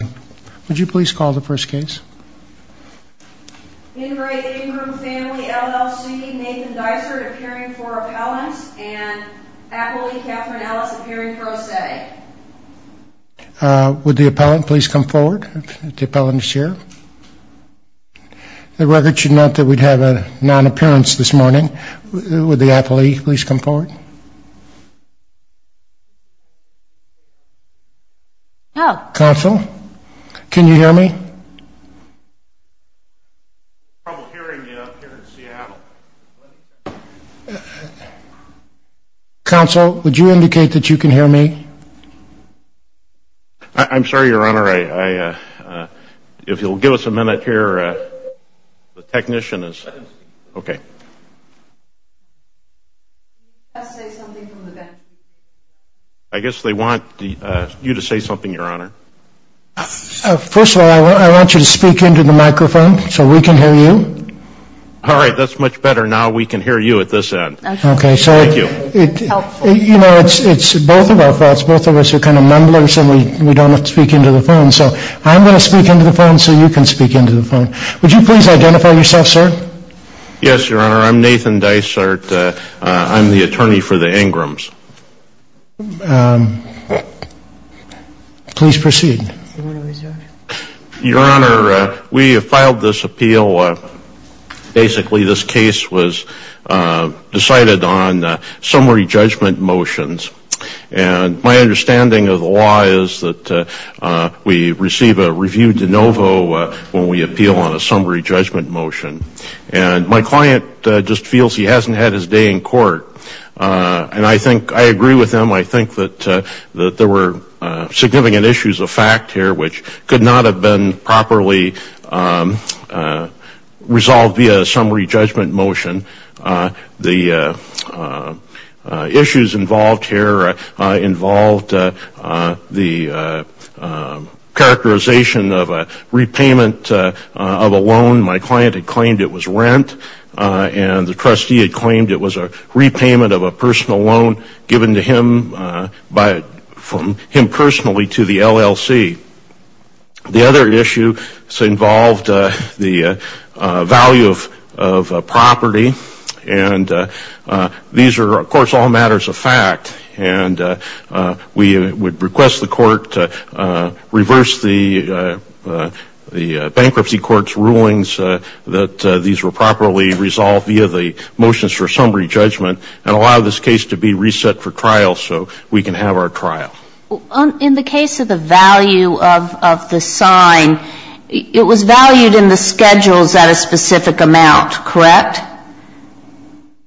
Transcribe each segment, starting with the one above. Nathan Dysart appearing for appellant and appellee Catherine Ellis appearing pro se. Would the appellant please come forward, the appellant is here. The record should note that we have a non-appearance this morning, would the appellee please come forward? Council, can you hear me? Council would you indicate that you can hear me? I'm sorry your honor, if you'll give us a minute here, the technician is, okay. I guess they want you to say something your honor. First of all I want you to speak into the microphone so we can hear you. All right that's much better, now we can hear you at this end. Okay. Thank you. You know it's both of us, both of us are kind of mumblers and we don't have to speak into the phone, so I'm going to speak into the phone so you can speak into the phone. Would you please identify yourself sir? Yes your honor, I'm Nathan Dysart, I'm the attorney for the Ingrams. Please proceed. Your honor, we have filed this appeal, basically this case was decided on summary judgment motions and my understanding of the law is that we receive a review de novo when we appeal on a summary judgment motion and my client just feels he hasn't had his day in court and I think, I agree with him, I think that there were significant issues of fact here which could not have been properly resolved via a summary judgment motion. The issues involved here involved the characterization of a repayment of a loan, my client had claimed it was rent and the trustee had claimed it was a repayment of a personal loan given to him from him personally to the LLC. The other issue involved the value of property and these are of course all matters of fact and we would request the court to reverse the bankruptcy court's rulings that these were properly resolved via the motions for summary judgment and allow this case to be reset for trial so we can have our trial. In the case of the value of the sign, it was valued in the schedules at a specific amount, correct?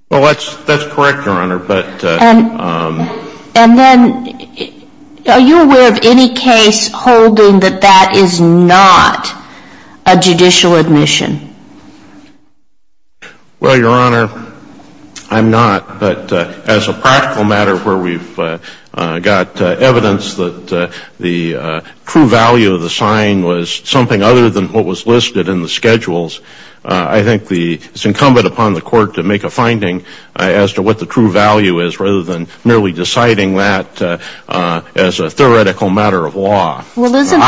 Well, that's correct, your honor, but... And then, are you aware of any case holding that that is not a judicial admission? Well, your honor, I'm not, but as a practical matter where we've got evidence that the true value of the sign was something other than what was listed in the schedules, I think it's incumbent upon the court to make a finding as to what the true value is rather than merely deciding that as a theoretical matter of law. Well, isn't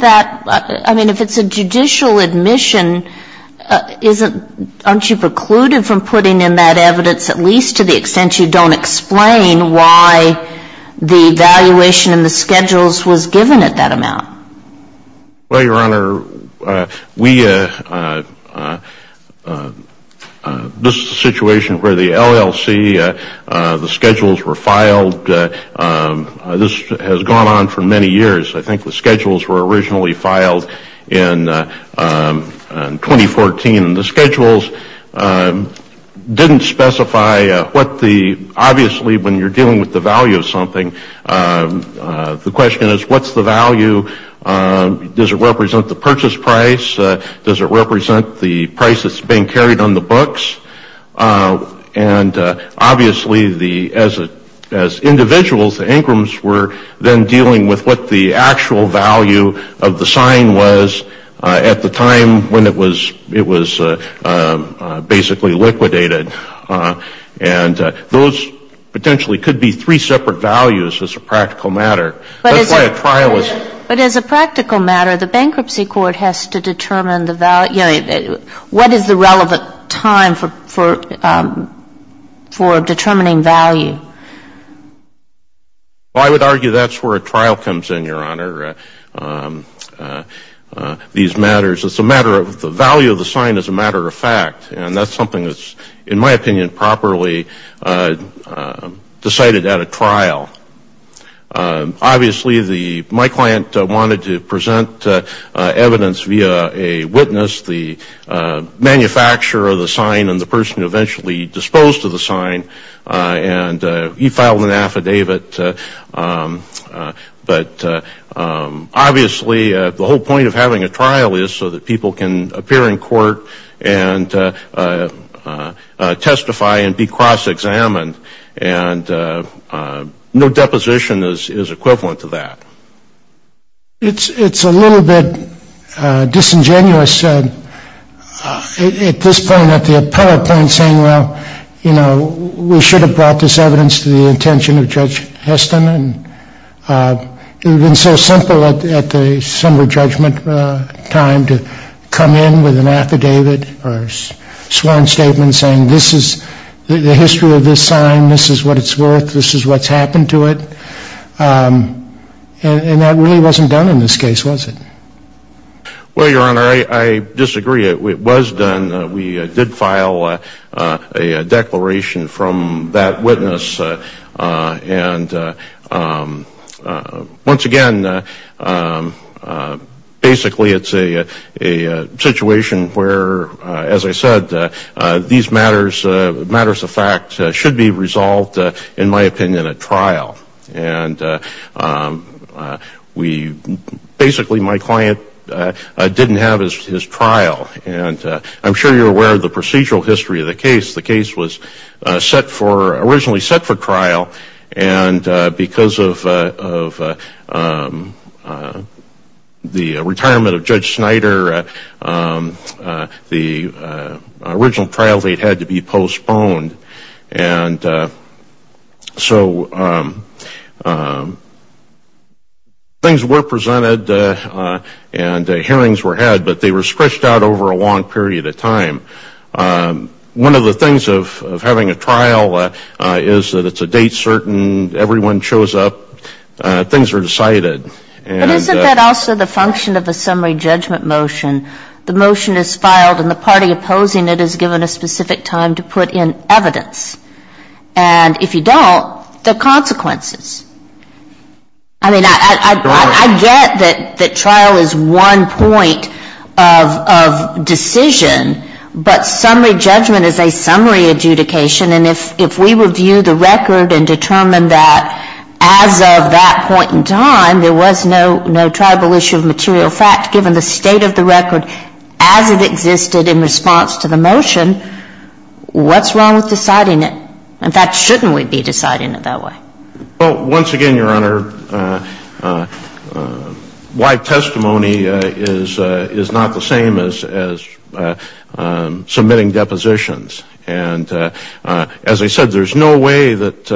that, I mean, if it's a judicial admission, aren't you precluded from putting in that evidence at least to the extent you don't explain why the valuation in the schedules was given at that amount? Well, your honor, this is a situation where the LLC, the schedules were filed, this has gone on for many years. I think the schedules were originally filed in 2014 and the schedules didn't specify what the, obviously when you're dealing with the value of something, the question is what's the value, does it represent the purchase price, does it represent the price that's being carried on the books? And obviously the, as individuals, the Ingrams were then dealing with what the actual value of the sign was at the time when it was basically liquidated. And those potentially could be three separate values as a practical matter. That's why a trial is. But as a practical matter, the bankruptcy court has to determine the value, what is the relevant time for determining value? I would argue that's where a trial comes in, your honor. These matters, it's a matter of, the value of the sign is a matter of fact and that's something that's, in my opinion, properly decided at a trial. Obviously the, my client wanted to present evidence via a witness, the manufacturer of the sign and the person who eventually disposed of the sign and he filed an affidavit. But obviously the whole point of having a trial is so that people can appear in court and testify and be cross-examined. And no deposition is equivalent to that. It's a little bit disingenuous at this point, at the appellate point, saying, well, you know, we should have brought this evidence to the intention of Judge Heston. It would have been so simple at the summary judgment time to come in with an affidavit or sworn statement saying this is the history of this sign, this is what it's worth, this is what's happened to it. And that really wasn't done in this case, was it? Well, your honor, I disagree. It was done. We did file a declaration from that witness. And once again, basically it's a situation where, as I said, these matters of fact should be resolved, in my opinion, at trial. And we, basically my client didn't have his trial. And I'm sure you're aware of the procedural history of the case. The case was set for, originally set for trial. And because of the retirement of Judge Snyder, the original trial date had to be postponed. And so things were presented and hearings were had, but they were stretched out over a long period of time. One of the things of having a trial is that it's a date certain, everyone shows up, things are decided. But isn't that also the function of a summary judgment motion? The motion is filed and the party opposing it is given a specific time to put in evidence. And if you don't, there are consequences. I mean, I get that trial is one point of decision. But summary judgment is a summary adjudication. And if we review the record and determine that as of that point in time, there was no tribal issue of material fact given the state of the record as it existed in response to the motion, what's wrong with deciding it? In fact, shouldn't we be deciding it that way? Well, once again, Your Honor, live testimony is not the same as submitting depositions. And as I said, there's no way that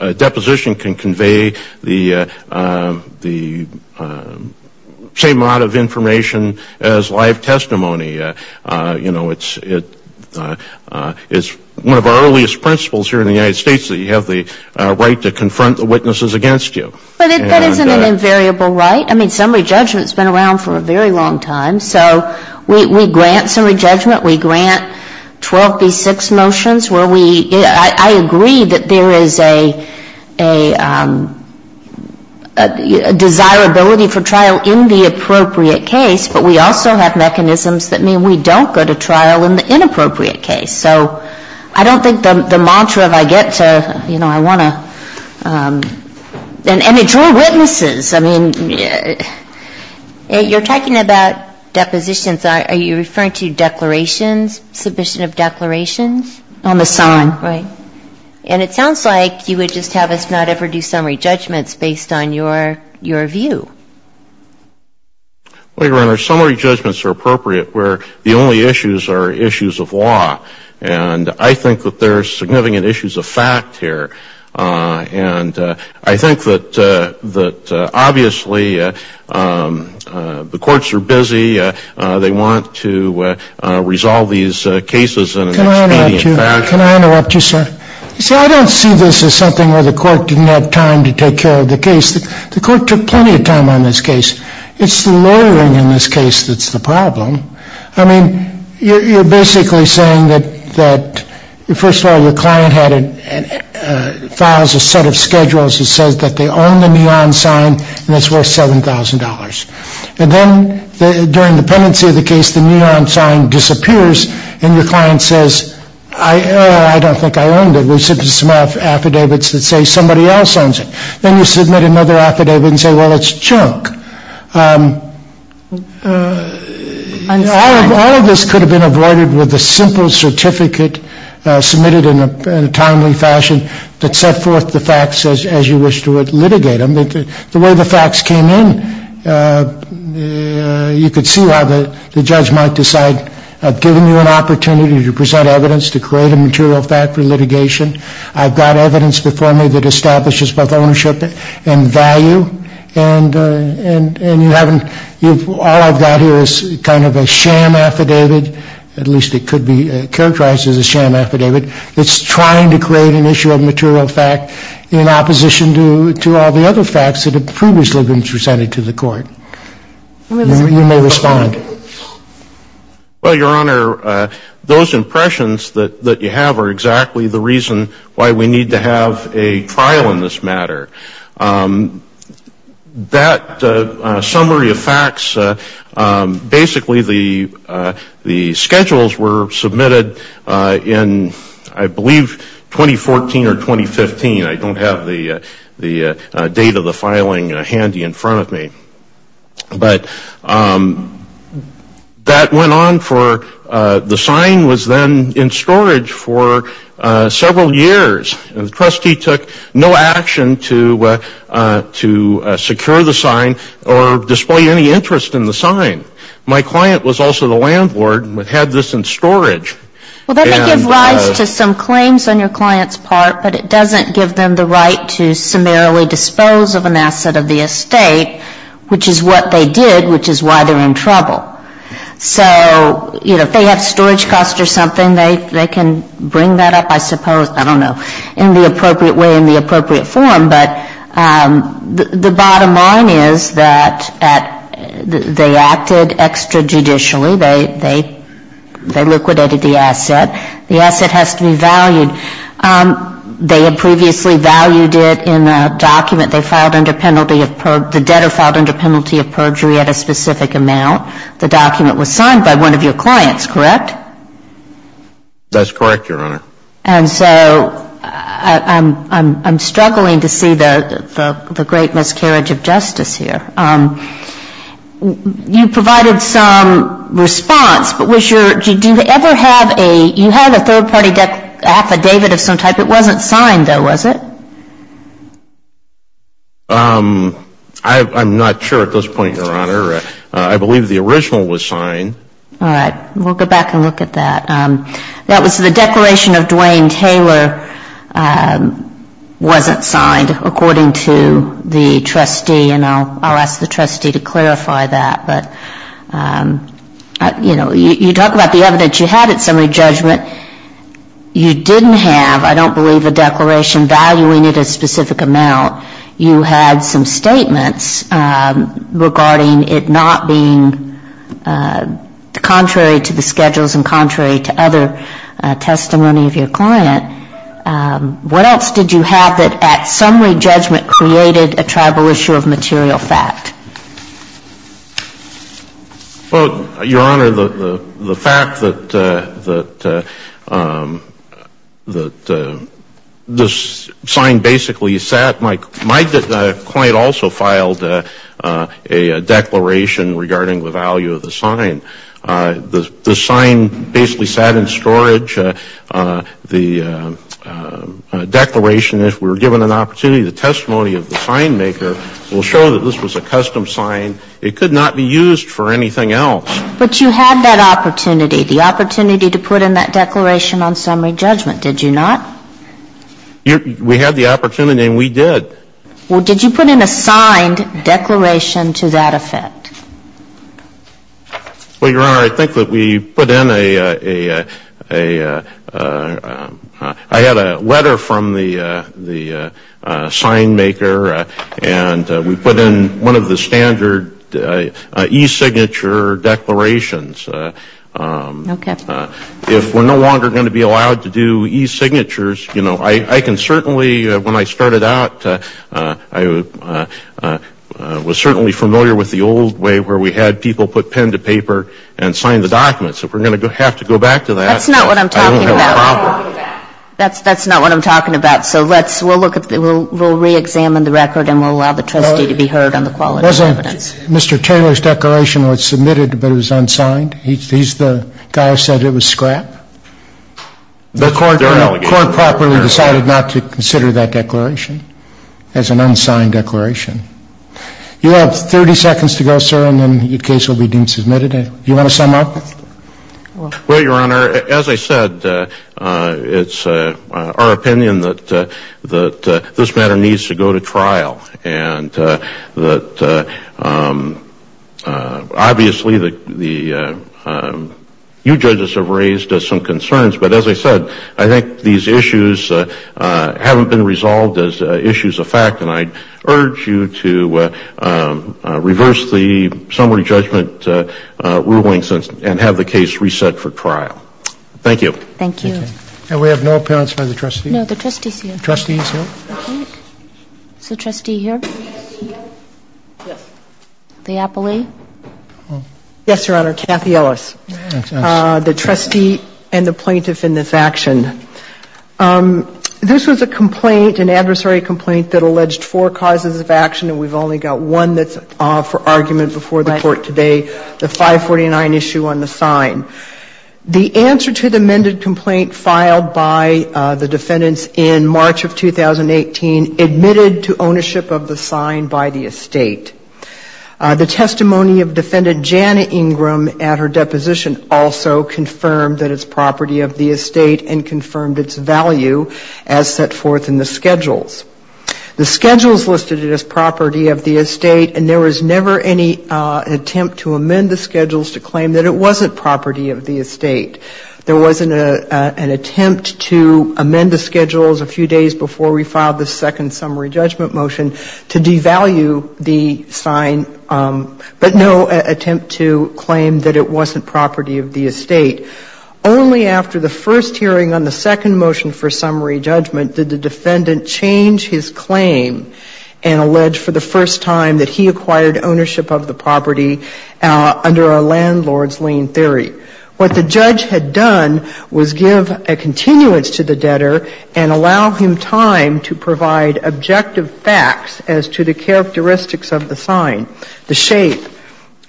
a deposition can convey the same amount of information as live testimony. It's one of our earliest principles here in the United States that you have the right to confront the witnesses against you. But that isn't an invariable right. I mean, summary judgment has been around for a very long time. So we grant summary judgment. We grant 12B6 motions where we – I agree that there is a desirability for trial in the appropriate case. But we also have mechanisms that mean we don't go to trial in the inappropriate case. So I don't think the mantra of I get to, you know, I want to – and it's your witnesses. I mean – You're talking about depositions. Are you referring to declarations, submission of declarations? On the sign. Right. And it sounds like you would just have us not ever do summary judgments based on your view. Well, Your Honor, summary judgments are appropriate where the only issues are issues of law. And I think that there are significant issues of fact here. And I think that obviously the courts are busy. They want to resolve these cases in an expedient fashion. Can I interrupt you, sir? You see, I don't see this as something where the court didn't have time to take care of the case. The court took plenty of time on this case. It's the lawyering in this case that's the problem. I mean, you're basically saying that, first of all, your client files a set of schedules that says that they own the neon sign and it's worth $7,000. And then during the pendency of the case, the neon sign disappears and your client says, oh, I don't think I owned it. We submitted some affidavits that say somebody else owns it. Then you submit another affidavit and say, well, it's junk. All of this could have been avoided with a simple certificate submitted in a timely fashion that set forth the facts as you wish to litigate them. The way the facts came in, you could see why the judge might decide, I've given you an opportunity to present evidence to create a material fact for litigation. I've got evidence before me that establishes both ownership and value. And you haven't, all I've got here is kind of a sham affidavit, at least it could be characterized as a sham affidavit, that's trying to create an issue of material fact in opposition to all the other facts that have previously been presented to the court. You may respond. Well, Your Honor, those impressions that you have are exactly the reason why we need to have a trial in this matter. That summary of facts, basically the schedules were submitted in, I believe, 2014 or 2015. I don't have the date of the filing handy in front of me. But that went on for, the sign was then in storage for several years. The trustee took no action to secure the sign or display any interest in the sign. My client was also the landlord and had this in storage. Well, that may give rise to some claims on your client's part, but it doesn't give them the right to summarily dispose of an asset of the estate. Which is what they did, which is why they're in trouble. So, you know, if they have storage costs or something, they can bring that up, I suppose, I don't know, in the appropriate way, in the appropriate form. But the bottom line is that they acted extra-judicially. They liquidated the asset. The asset has to be valued. They had previously valued it in a document. They filed under penalty of, the debtor filed under penalty of perjury at a specific amount. The document was signed by one of your clients, correct? That's correct, Your Honor. And so, I'm struggling to see the great miscarriage of justice here. You provided some response, but was your, do you ever have a, you had a third-party affidavit of some type. It wasn't signed, though, was it? I'm not sure at this point, Your Honor. I believe the original was signed. All right. We'll go back and look at that. That was the declaration of Duane Taylor wasn't signed, according to the trustee. And I'll ask the trustee to clarify that. But, you know, you talk about the evidence you had at summary judgment. You didn't have, I don't believe, a declaration valuing it a specific amount. You had some statements regarding it not being contrary to the schedules and contrary to other testimony of your client. What else did you have that at summary judgment created a tribal issue of material fact? Well, Your Honor, the fact that this sign basically sat, my client also filed a declaration regarding the value of the sign. The sign basically sat in storage. The declaration, if we were given an opportunity, the testimony of the sign maker will show that this was a custom sign. It could not be used for anything else. But you had that opportunity, the opportunity to put in that declaration on summary judgment, did you not? We had the opportunity, and we did. Well, did you put in a signed declaration to that effect? Well, Your Honor, I think that we put in a, I had a letter from the sign maker, and we put in one of the standard e-signature declarations. Okay. If we're no longer going to be allowed to do e-signatures, you know, I can certainly, when I started out, I was certainly familiar with the old way where we had people put pen to paper and sign the document. So if we're going to have to go back to that, I don't have a problem. That's not what I'm talking about. That's not what I'm talking about. So let's, we'll look at, we'll reexamine the record, and we'll allow the trustee to be heard on the quality of the evidence. Wasn't Mr. Taylor's declaration was submitted, but it was unsigned? He's the guy who said it was scrap? The court properly decided not to consider that declaration as an unsigned declaration. You have 30 seconds to go, sir, and then your case will be deemed submitted. Do you want to sum up? Well, Your Honor, as I said, it's our opinion that this matter needs to go to trial, and that obviously the, you judges have raised some concerns, but as I said, I think these issues haven't been resolved as issues of fact, and I urge you to reverse the summary judgment rulings and have the case reset for trial. Thank you. Thank you. And we have no appearance by the trustees? No, the trustees here. Trustees here? Yes. The appellee? Yes, Your Honor, Kathy Ellis, the trustee and the plaintiff in this action. This was a complaint, an adversary complaint that alleged four causes of action, and we've only got one that's for argument before the court today, the 549 issue on the sign. The answer to the amended complaint filed by the defendants in March of 2008, admitted to ownership of the sign by the estate. The testimony of defendant Jana Ingram at her deposition also confirmed that it's property of the estate and confirmed its value as set forth in the schedules. The schedules listed it as property of the estate, and there was never any attempt to amend the schedules to claim that it wasn't property of the estate. There wasn't an attempt to amend the schedules a few days before we filed the second summary judgment motion to devalue the sign, but no attempt to claim that it wasn't property of the estate. Only after the first hearing on the second motion for summary judgment did the defendant change his claim and allege for the first time that he acquired ownership of the property under a landlord's lien theory. What the judge had done was give a continuance to the debtor and allow him time to provide objective facts as to the characteristics of the sign, the shape,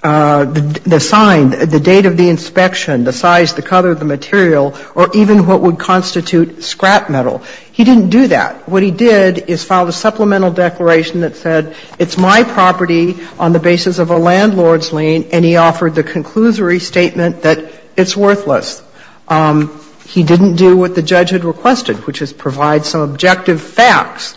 the sign, the date of the inspection, the size, the color of the material, or even what would constitute scrap metal. He didn't do that. What he did is filed a supplemental declaration that said it's my property on the basis of a landlord's lien, and he offered the conclusory statement that it's worthless. He didn't do what the judge had requested, which is provide some objective facts.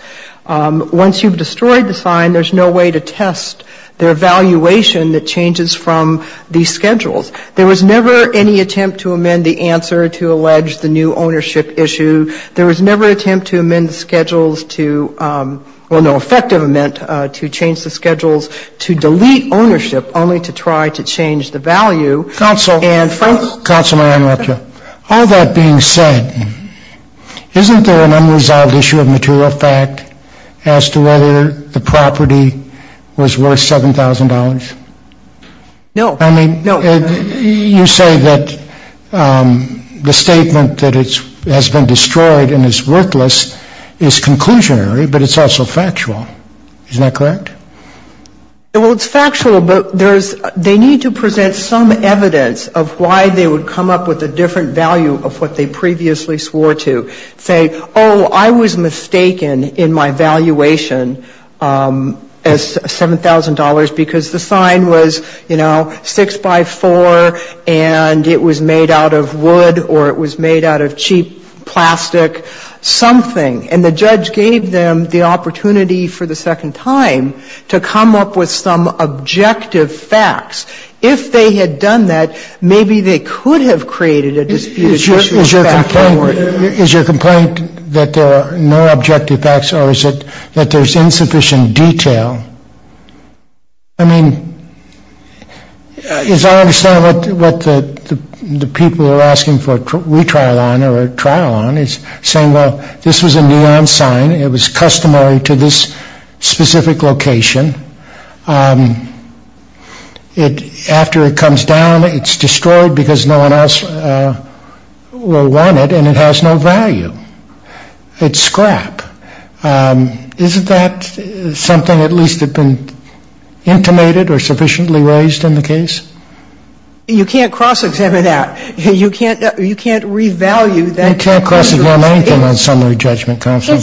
Once you've destroyed the sign, there's no way to test the evaluation that changes from these schedules. There was never any attempt to amend the answer to allege the new ownership issue. There was never an attempt to amend the schedules to, well, no effective amend to change the schedules to delete ownership only to try to change the value. Counsel, counsel, may I interrupt you? All that being said, isn't there an unresolved issue of material fact as to whether the property was worth $7,000? No. I mean, you say that the statement that it has been destroyed and is worthless is conclusionary, but it's also factual. Isn't that correct? Well, it's factual, but they need to present some evidence of why they would come up with a different value of what they previously swore to. Say, oh, I was mistaken in my valuation as $7,000 because the sign was, you know, 6 by 4, and it was made out of wood or it was made out of cheap plastic something, and the judge gave them the opportunity for the second time to come up with some objective facts. If they had done that, maybe they could have created a disputed ownership fact. Is your complaint that there are no objective facts or is it that there's insufficient detail? I mean, as I understand what the people are asking for a retrial on is saying, well, this was a neon sign. It was customary to this specific location. After it comes down, it's destroyed because no one else will want it, and it has no value. It's scrap. Isn't that something at least that's been intimated or sufficiently raised in the case? You can't cross-examine that. You can't revalue that conclusion. You can't cross-examine anything on summary judgment, counsel.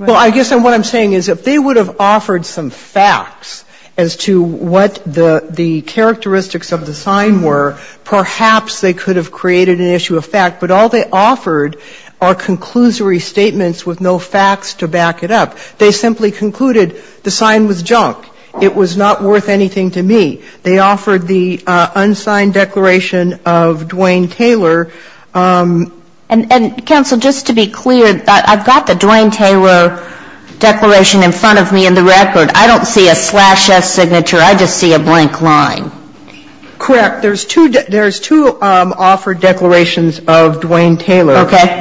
Well, I guess what I'm saying is if they would have offered some facts as to what the characteristics of the sign were, perhaps they could have created an issue of fact, but all they offered are conclusory statements with no facts to back it up. They simply concluded the sign was junk. It was not worth anything to me. They offered the unsigned declaration of Duane Taylor. And, counsel, just to be clear, I've got the Duane Taylor declaration in front of me in the record. I don't see a slash S signature. I just see a blank line. Correct. There's two offered declarations of Duane Taylor. Okay.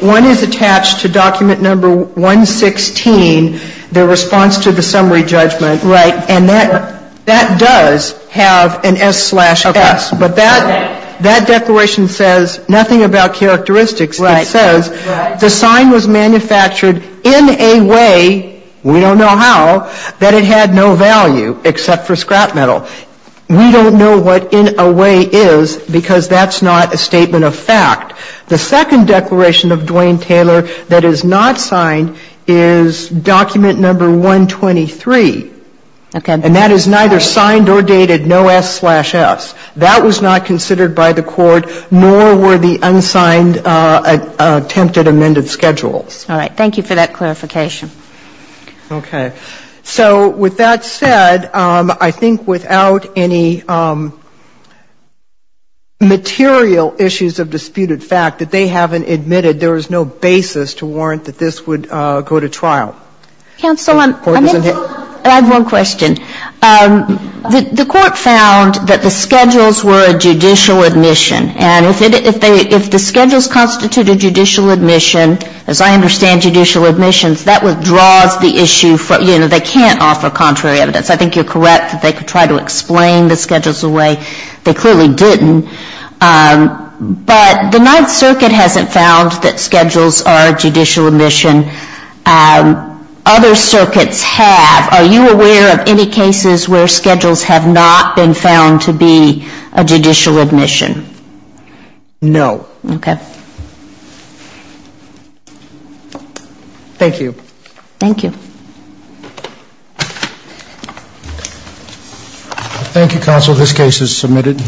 One is attached to document number 116, the response to the summary judgment. Right. And that does have an S slash S. Okay. But that declaration says nothing about characteristics. Right. It says the sign was manufactured in a way, we don't know how, that it had no value except for scrap metal. We don't know what in a way is because that's not a statement of fact. The second declaration of Duane Taylor that is not signed is document number 123. Okay. And that is neither signed or dated, no S slash S. That was not considered by the Court, nor were the unsigned attempted amended schedules. All right. Thank you for that clarification. Okay. So, with that said, I think without any material issues of disputed fact that they haven't admitted, there is no basis to warrant that this would go to trial. Counsel, I have one question. The Court found that the schedules were a judicial admission. And if the schedules constitute a judicial admission, as I understand judicial admissions, that withdraws the issue. You know, they can't offer contrary evidence. I think you're correct that they could try to explain the schedules away. They clearly didn't. But the Ninth Circuit hasn't found that schedules are a judicial admission. Other circuits have. Are you aware of any cases where schedules have not been found to be a judicial admission? No. Okay. Thank you. Thank you. Thank you, Counsel. This case is submitted.